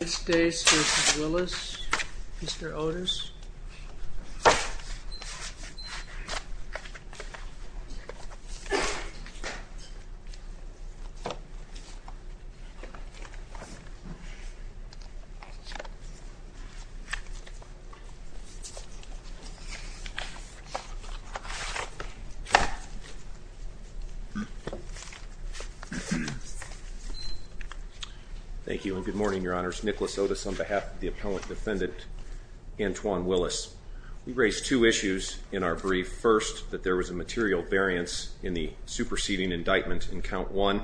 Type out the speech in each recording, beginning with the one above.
v. Willis, Mr. Otis. Thank you and good morning, Your Honors. Nicholas Otis on behalf of the appellant defendant Antwon Willis. We raised two issues in our brief. First, that there was a material variance in the superseding indictment in count one,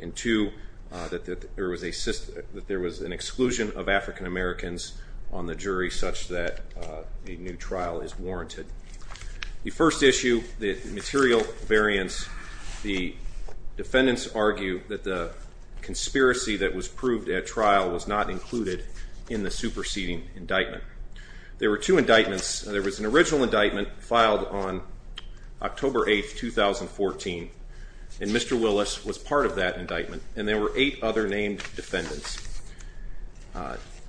and two, that there was an exclusion of African-Americans on the jury such that a new trial is warranted. The first issue, the material variance, the defendants argue that the conspiracy that was proved at trial was not included in the superseding indictment. There were two indictments. There was an original indictment filed on October 8, 2014, and Mr. Willis was part of that indictment, and there were eight other named defendants.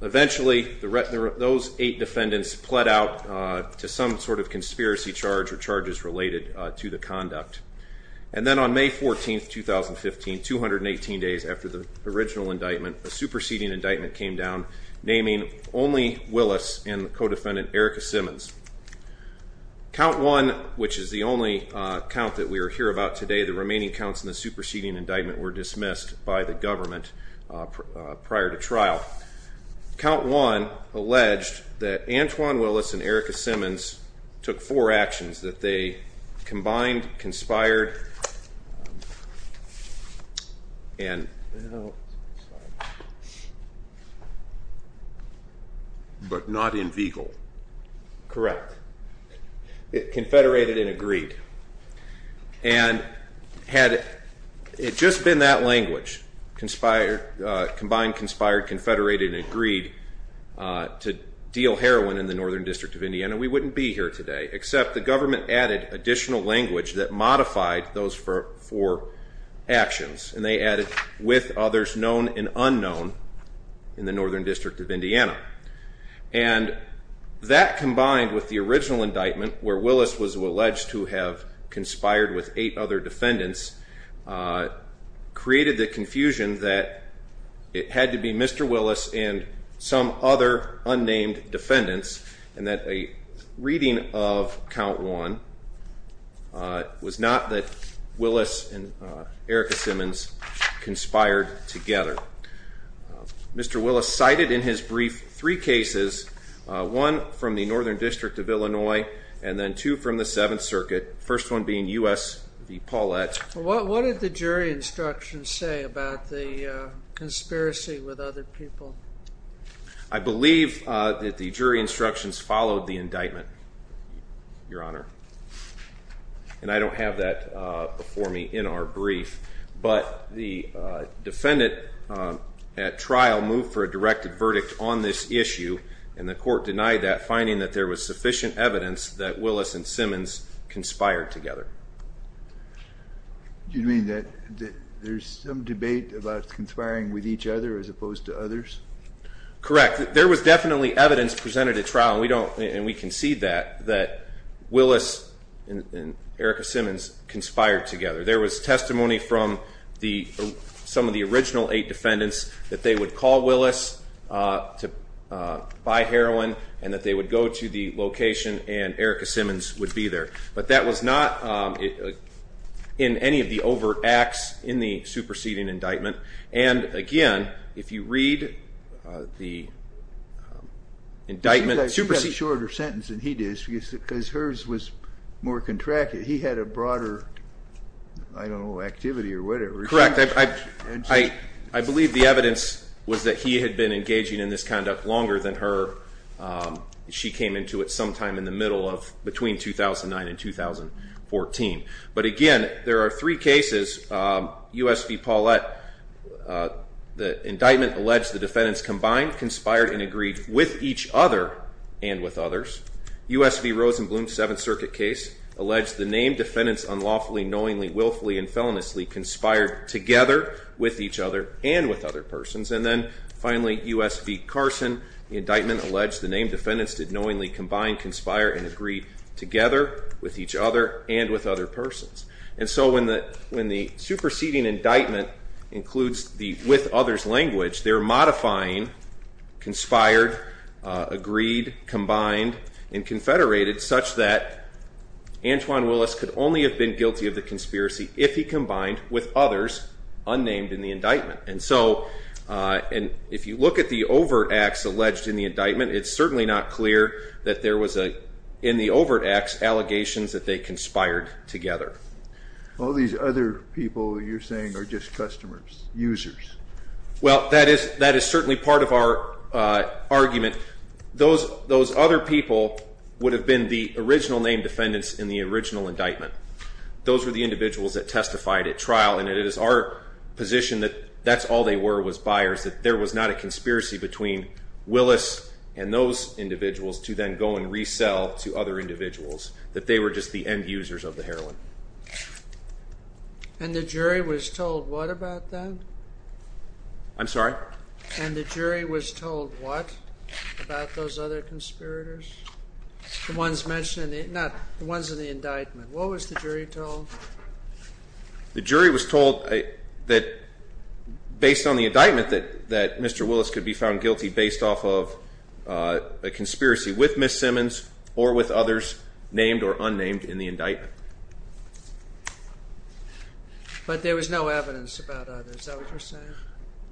Eventually, those eight defendants pled out to some sort of conspiracy charge or charges related to the conduct. And then on May 14, 2015, 218 days after the original indictment, a superseding indictment came down naming only Willis and the co-defendant Erika Simmons. Count one, which is the only count that we are here about today, the remaining counts in the superseding indictment were dismissed by the government prior to trial. Count one alleged that Antwon Willis and Erika Simmons took four actions, that they combined, Correct. It confederated and agreed. And had it just been that language, combined, conspired, confederated, and agreed to deal heroin in the Northern District of Indiana, we wouldn't be here today, except the government added additional language that modified those four actions, and they added, with others known and unknown in the Northern District of Indiana. And that, combined with the original indictment, where Willis was alleged to have conspired with eight other defendants, created the confusion that it had to be Mr. Willis and some other unnamed defendants, and that a reading of count one was not that Willis and Erika Simmons conspired together. Mr. Willis cited in his brief three cases, one from the Northern District of Illinois, and then two from the Seventh Circuit, the first one being U.S. v. Paulette. What did the jury instructions say about the conspiracy with other people? I believe that the jury instructions followed the indictment, Your Honor. And I don't have that before me in our brief, but the defendant at trial moved for a directed verdict on this issue, and the court denied that, finding that there was sufficient evidence that Willis and Simmons conspired together. You mean that there's some debate about conspiring with each other as opposed to others? Correct. There was definitely evidence presented at trial, and we concede that, that Willis and Erika Simmons conspired together. There was testimony from some of the original eight defendants that they would call Willis to buy heroin, and that they would go to the location and Erika Simmons would be there. But that was not in any of the overt acts in the superseding indictment. And again, if you read the indictment... It's a shorter sentence than he did, because hers was more contracted. He had a broader, I don't know, activity, or whatever. Correct. I believe the evidence was that he had been engaging in this conduct longer than her. She came into it sometime in the middle of, between 2009 and 2014. But again, there are three cases, U.S. v. Paulette. The indictment alleged the defendants combined, conspired and agreed with each other and with others. U.S. v. Rosenblum, Seventh Circuit case, alleged the named defendants unlawfully, knowingly, willfully and feloniously conspired together with each other and with other persons. And then finally, U.S. v. Carson, the indictment alleged the named defendants did knowingly combine, conspire and agree together with each other and with other persons. And so when the superseding indictment includes the with others language, they're modifying conspired, agreed, combined and confederated such that Antwon Willis could only have been guilty of the conspiracy if he combined with others unnamed in the indictment. And so, if you look at the overt acts alleged in the indictment, it's certainly not clear that there was, in the overt acts, allegations that they conspired together. All these other people you're saying are just customers, users. Well, that is certainly part of our argument. Those other people would have been the original named defendants in the original indictment. Those were the individuals that testified at trial, and it is our position that that's all they were, was buyers, that there was not a conspiracy between Willis and those individuals to then go and resell to other individuals, that they were just the end users of the heroin. And the jury was told what about that? I'm sorry? And the jury was told what about those other conspirators? The ones mentioned, not the ones in the indictment. What was the jury told? The jury was told that based on the indictment that that Mr. Willis could be found guilty based off of a conspiracy with Miss Simmons or with others named or unnamed in the indictment. But there was no evidence about others, is that what you're saying?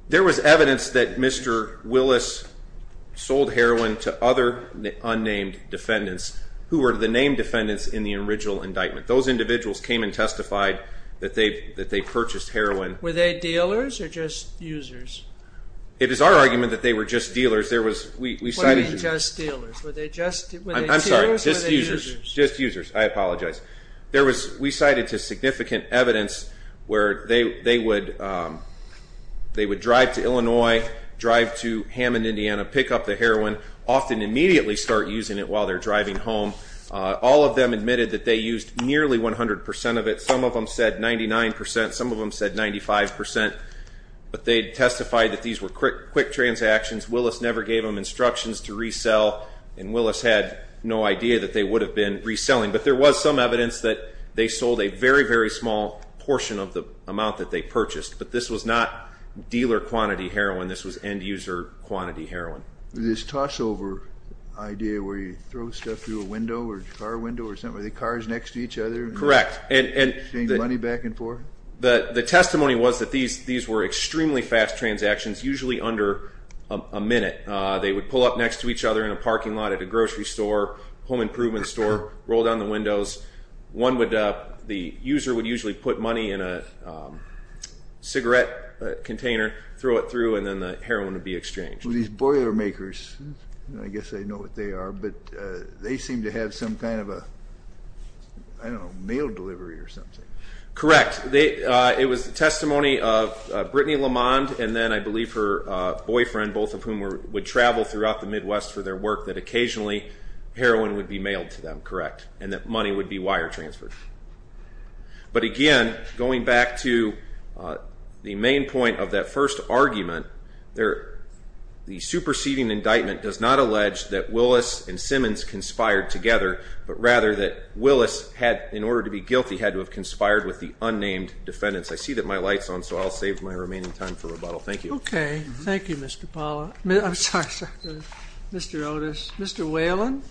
There was evidence that Mr. Willis sold heroin to other unnamed defendants who were the named defendants in the original indictment. Those individuals came and testified that they purchased heroin. Were they dealers or just users? It is our argument that they were just dealers. Were they just dealers? I'm sorry, just users. I apologize. We cited to significant evidence where they would drive to Illinois, drive to Hammond, Indiana, pick up the heroin, often immediately start using it while they're driving home. All of them admitted that they used nearly 100% of it. Some of them said 99%. Some of them said 95%. But they testified that these were quick transactions. Willis never gave them instructions to resell. And Willis had no idea that they would have been reselling. But there was some evidence that they sold a very, very small portion of the amount that they purchased. But this was not dealer quantity heroin. This was end user quantity heroin. This tossover idea where you throw stuff through a window or a car window or something. Were they cars next to each other? Correct. And they exchanged money back and forth? The testimony was that these were extremely fast transactions, usually under a minute. They would pull up next to each other in a parking lot at a grocery store, home improvement store, roll down the windows. The user would usually put money in a cigarette container, throw it through, and then the heroin would be exchanged. These Boilermakers, I guess I know what they are, but they seem to have some kind of a, I don't know, mail delivery or something. Correct. It was testimony of Brittany Lamond and then I believe her boyfriend, both of whom would travel throughout the Midwest for their work, that occasionally heroin would be mailed to them, correct, and that money would be wire transferred. But again, going back to the main point of that first argument, the superseding indictment does not allege that Willis and Simmons conspired together, but rather that Willis had, in order to be guilty, had to have conspired with the unnamed defendants. I see that my light's on, so I'll save my remaining time for rebuttal. Thank you. Okay. Thank you, Mr. Paula. I'm sorry, Mr. Otis. Mr. Whalen?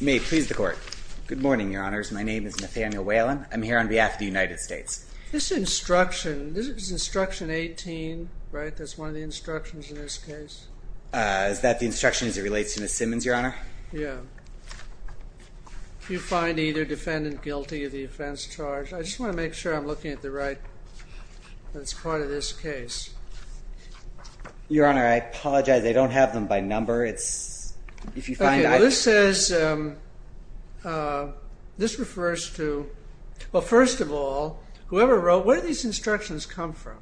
May it please the Court. Good morning, Your Honors. My name is Nathaniel Whalen. I'm here on behalf of the United States. This instruction, this is instruction 18, right? That's one of the instructions in this case? Is that the instruction as it relates to Ms. Simmons, Your Honor? Yeah. You find either defendant guilty of the offense charged. I just want to make sure I'm looking at the right, that's part of this case. Your Honor, I apologize. I don't have them by number. It's, if you find out... This refers to, well, first of all, whoever wrote, where did these instructions come from?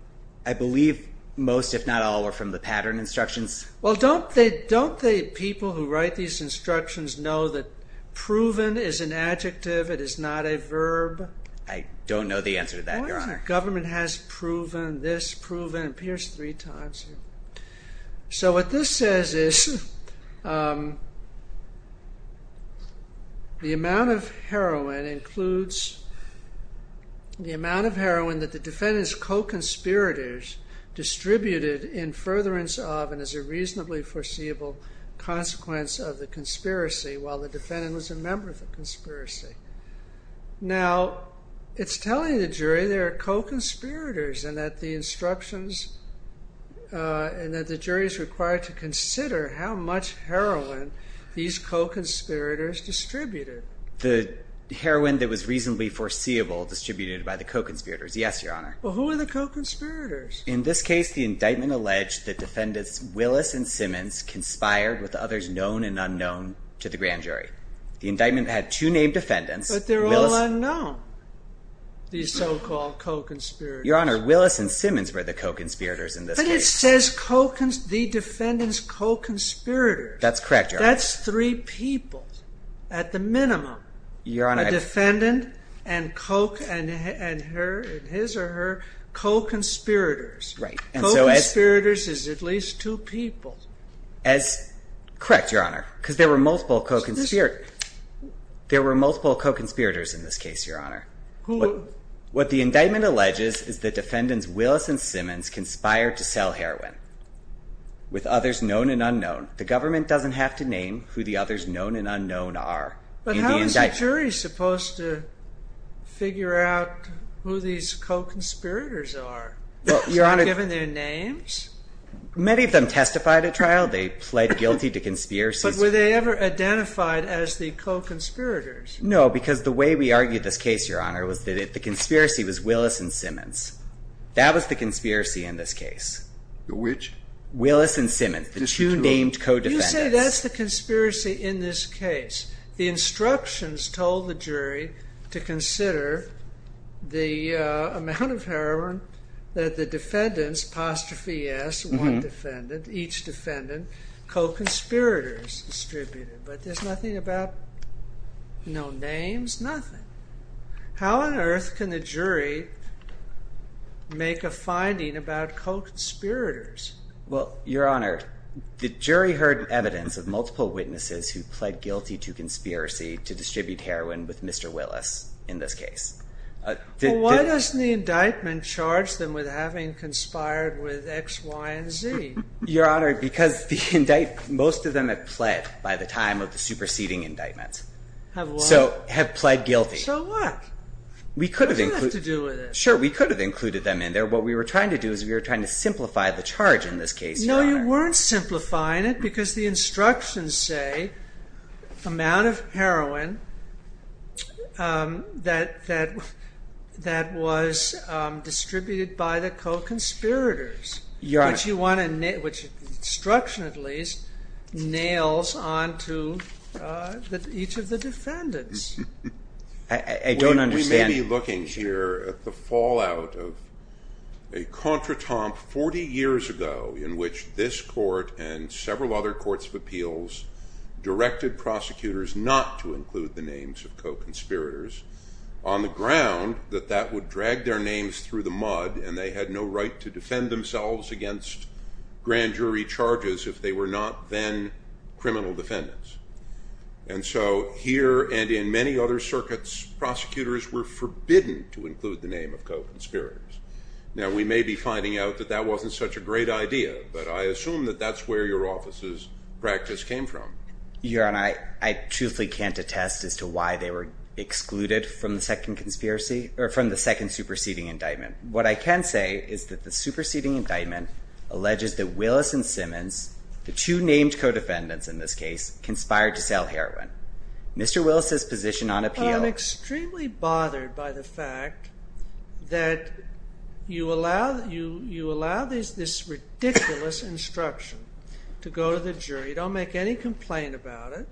I believe most, if not all, are from the pattern instructions. Well, don't the people who write these instructions know that proven is an adjective, it is not a verb? I don't know the answer to that, Your Honor. What is it? Government has proven, this proven, appears three times here. So what this says is, the amount of heroin includes, the amount of heroin that the defendant's co-conspirators distributed in furtherance of and as a reasonably foreseeable consequence of the conspiracy, while the defendant was a member of the conspiracy. Now, it's telling the jury they're co-conspirators and that the instructions, and that the jury is required to consider how much heroin these co-conspirators distributed. The heroin that was reasonably foreseeable distributed by the co-conspirators, yes, Your Honor. Well, who are the co-conspirators? In this case, the indictment alleged that defendants Willis and Simmons conspired with others known and unknown to the grand jury. The indictment had two named defendants. But they're all unknown, these so-called co-conspirators. Your Honor, Willis and Simmons were the co-conspirators in this case. But it says the defendant's co-conspirators. That's correct, Your Honor. That's three people, at the minimum, a defendant and his or her co-conspirators. Right. Co-conspirators is at least two people. Correct, Your Honor, because there were multiple co-conspirators in this case, Your Honor. What the indictment alleges is that defendants Willis and Simmons conspired to sell heroin with others known and unknown. The government doesn't have to name who the others known and unknown are. But how is the jury supposed to figure out who these co-conspirators are? Is it given their names? Many of them testified at trial. They pled guilty to conspiracies. But were they ever identified as the co-conspirators? No, because the way we argued this case, Your Honor, was that the conspiracy was Willis and Simmons. That was the conspiracy in this case. Which? Willis and Simmons, the two named co-defendants. You say that's the conspiracy in this case. The instructions told the jury to consider the amount of heroin that the defendants, apostrophe S, one defendant, each defendant, co-conspirators distributed. But there's nothing about known names, nothing. How on earth can the jury make a finding about co-conspirators? Your Honor, the jury heard evidence of multiple witnesses who pled guilty to conspiracy to distribute heroin with Mr. Willis in this case. Why doesn't the indictment charge them with having conspired with X, Y, and Z? Your Honor, because most of them have pled by the time of the superseding indictment. Have what? Have pled guilty. So what? We could have included them in there. What we were trying to do is we were trying to simplify the charge in this case, Your Honor. No, you weren't simplifying it because the instructions say amount of heroin that was distributed by the co-conspirators. Your Honor. Which instruction, at least, nails onto each of the defendants. I don't understand. We may be looking here at the fallout of a contretemps 40 years ago in which this court and several other courts of appeals directed prosecutors not to include the names of co-conspirators on the ground that that would drag their names through the mud and they had no right to defend themselves against grand jury charges if they were not then criminal defendants. And so here and in many other circuits, prosecutors were forbidden to include the name of co-conspirators. Now, we may be finding out that that wasn't such a great idea, but I assume that that's where your office's practice came from. Your Honor, I truthfully can't attest as to why they were excluded from the second superseding indictment. What I can say is that the superseding indictment alleges that Willis and Simmons, the two named co-defendants in this case, conspired to sell heroin. Mr. Willis's position on appeal... I'm extremely bothered by the fact that you allow this ridiculous instruction to go to the jury. Don't make any complaint about it.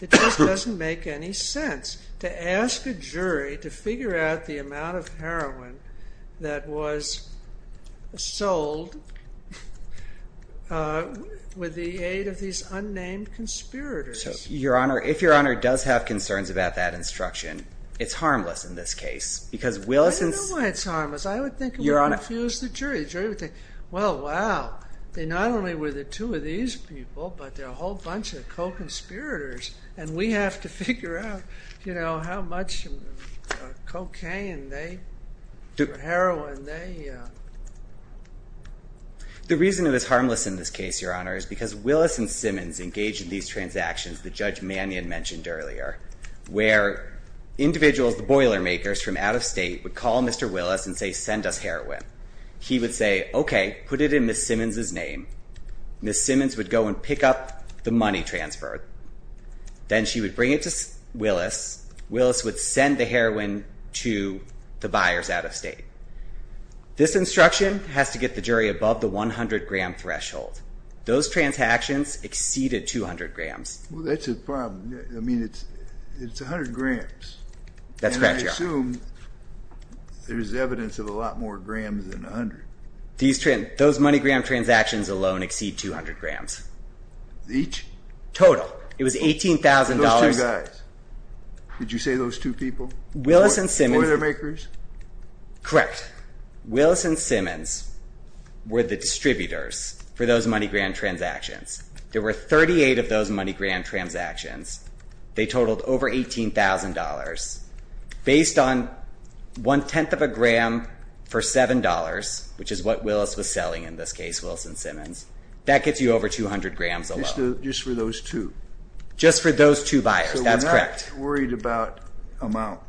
It just doesn't make any sense to ask a jury to figure out the amount of heroin that was sold with the aid of these unnamed conspirators. Your Honor, if your Honor does have concerns about that instruction, it's harmless in this case because Willis and... I don't know why it's harmless. I would think it would confuse the jury. The jury would think, well, wow, they not only were the two of these people, but they're a whole bunch of co-conspirators and we have to figure out, you know, how much cocaine and heroin they... The reason it is harmless in this case, your Honor, is because Willis and Simmons engaged in these transactions that Judge Mannion mentioned earlier, where individuals, the boilermakers from out of state, would call Mr. Willis and say, send us heroin. He would say, okay, put it in Ms. Simmons' name. Ms. Simmons would go and pick up the money transfer. Then she would bring it to Willis. Willis would send the heroin to the buyers out of state. This instruction has to get the jury above the 100-gram threshold. Those transactions exceeded 200 grams. Well, that's a problem. I mean, it's 100 grams. That's correct, your Honor. And I assume there's evidence of a lot more grams than 100. Those money-gram transactions alone exceed 200 grams. Each? Total. It was $18,000... Did you say those two people? Willis and Simmons... Boilermakers? Correct. Willis and Simmons were the distributors for those money-gram transactions. There were 38 of those money-gram transactions. They totaled over $18,000. Based on one-tenth of a gram for $7, which is what Willis was selling in this case, Willis and Simmons, that gets you over 200 grams alone. Just for those two? Just for those two buyers. That's correct. I'm just worried about amount.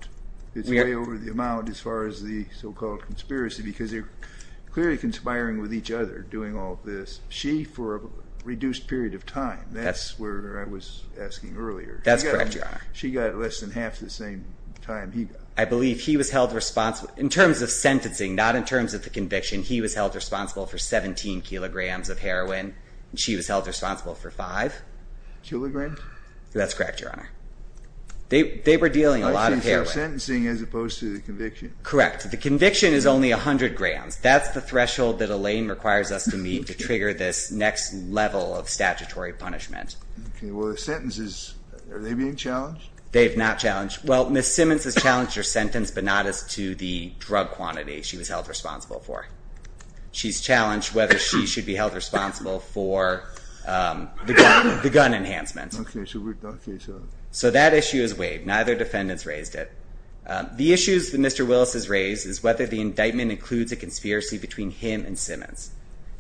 It's way over the amount as far as the so-called conspiracy, because they're clearly conspiring with each other doing all of this. She, for a reduced period of time. That's where I was asking earlier. That's correct, your Honor. She got less than half the same time he got. I believe he was held responsible... In terms of sentencing, not in terms of the conviction, he was held responsible for 17 kilograms of heroin. She was held responsible for 5. Kilograms? That's correct, your Honor. They were dealing a lot of heroin. Sentencing as opposed to the conviction? Correct. The conviction is only 100 grams. That's the threshold that Elaine requires us to meet to trigger this next level of statutory punishment. Okay, well the sentences, are they being challenged? They have not challenged. Well, Ms. Simmons has challenged her sentence, but not as to the drug quantity she was held responsible for. She's challenged whether she should be held responsible for the gun enhancement. So that issue is waived. Neither defendant has raised it. The issues that Mr. Willis has raised is whether the indictment includes a conspiracy between him and Simmons.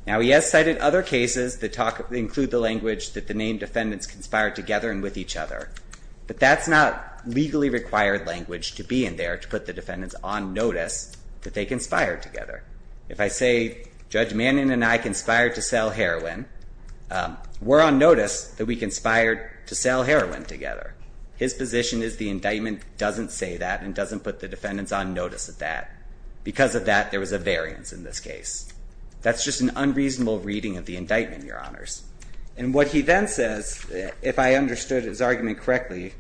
Now, he has cited other cases that include the language that the named defendants conspired together and with each other. But that's not legally required language to be in there to put the defendants on notice that they conspired together. If I say, Judge Manning and I conspired to sell heroin, we're on notice that we conspired to sell heroin together. His position is the indictment doesn't say that and doesn't put the defendants on notice of that. Because of that, there was a variance in this case. That's just an unreasonable reading of the indictment, Your Honors. And what he then says, if I understood his argument correctly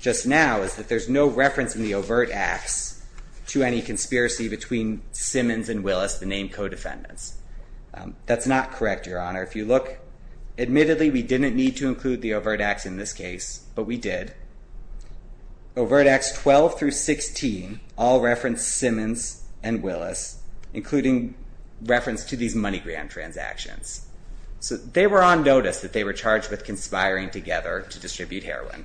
just now, is that there's no reference in the overt acts to any conspiracy between Simmons and Willis, the named co-defendants. That's not correct, Your Honor. If you look, admittedly, we didn't need to include the overt acts in this case, but we did. Overt acts 12 through 16 all reference Simmons and Willis, including reference to these money gram transactions. So they were on notice that they were charged with conspiring together to distribute heroin.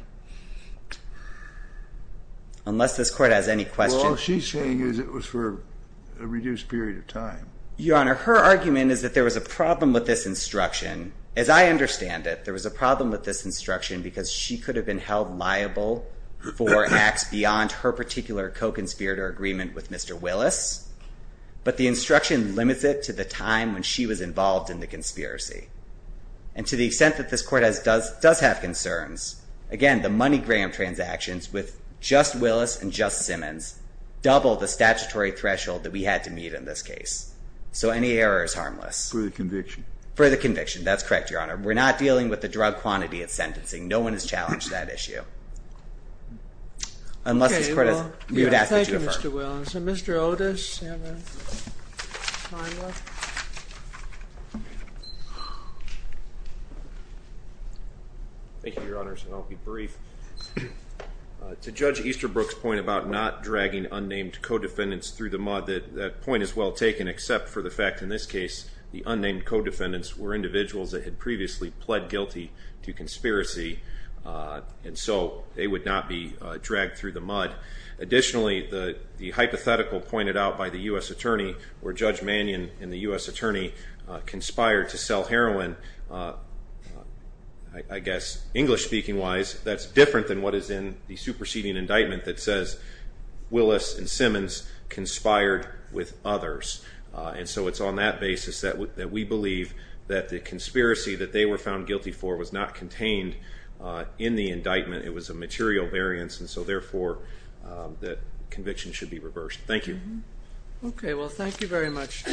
Unless this court has any questions. Well, all she's saying is it was for a reduced period of time. Your Honor, her argument is that there was a problem with this instruction. As I understand it, there was a problem with this instruction because she could have been held liable for acts beyond her particular co-conspirator agreement with Mr. Willis. But the instruction limits it to the time when she was involved in the conspiracy. And to the extent that this court does have concerns, again, the money gram transactions with just Willis and just Simmons doubled the statutory threshold that we had to meet in this case. So any error is harmless. For the conviction. For the conviction. That's correct, Your Honor. We're not dealing with the drug quantity of sentencing. No one has challenged that issue. Okay, well, thank you, Mr. Willis. And Mr. Otis, you have a time left. Thank you, Your Honors, and I'll be brief. To Judge Easterbrook's point about not dragging unnamed co-defendants through the mod, that point is well taken except for the fact in this case the unnamed co-defendants were individuals that had previously pled guilty to conspiracy. And so they would not be dragged through the mud. Additionally, the hypothetical pointed out by the U.S. attorney where Judge Mannion and the U.S. attorney conspired to sell heroin, I guess English-speaking-wise, that's different than what is in the superseding indictment that says Willis and Simmons conspired with others. And so it's on that basis that we believe that the conspiracy that they were found guilty for was not contained in the indictment. It was a material variance. And so, therefore, that conviction should be reversed. Thank you. Okay, well, thank you very much.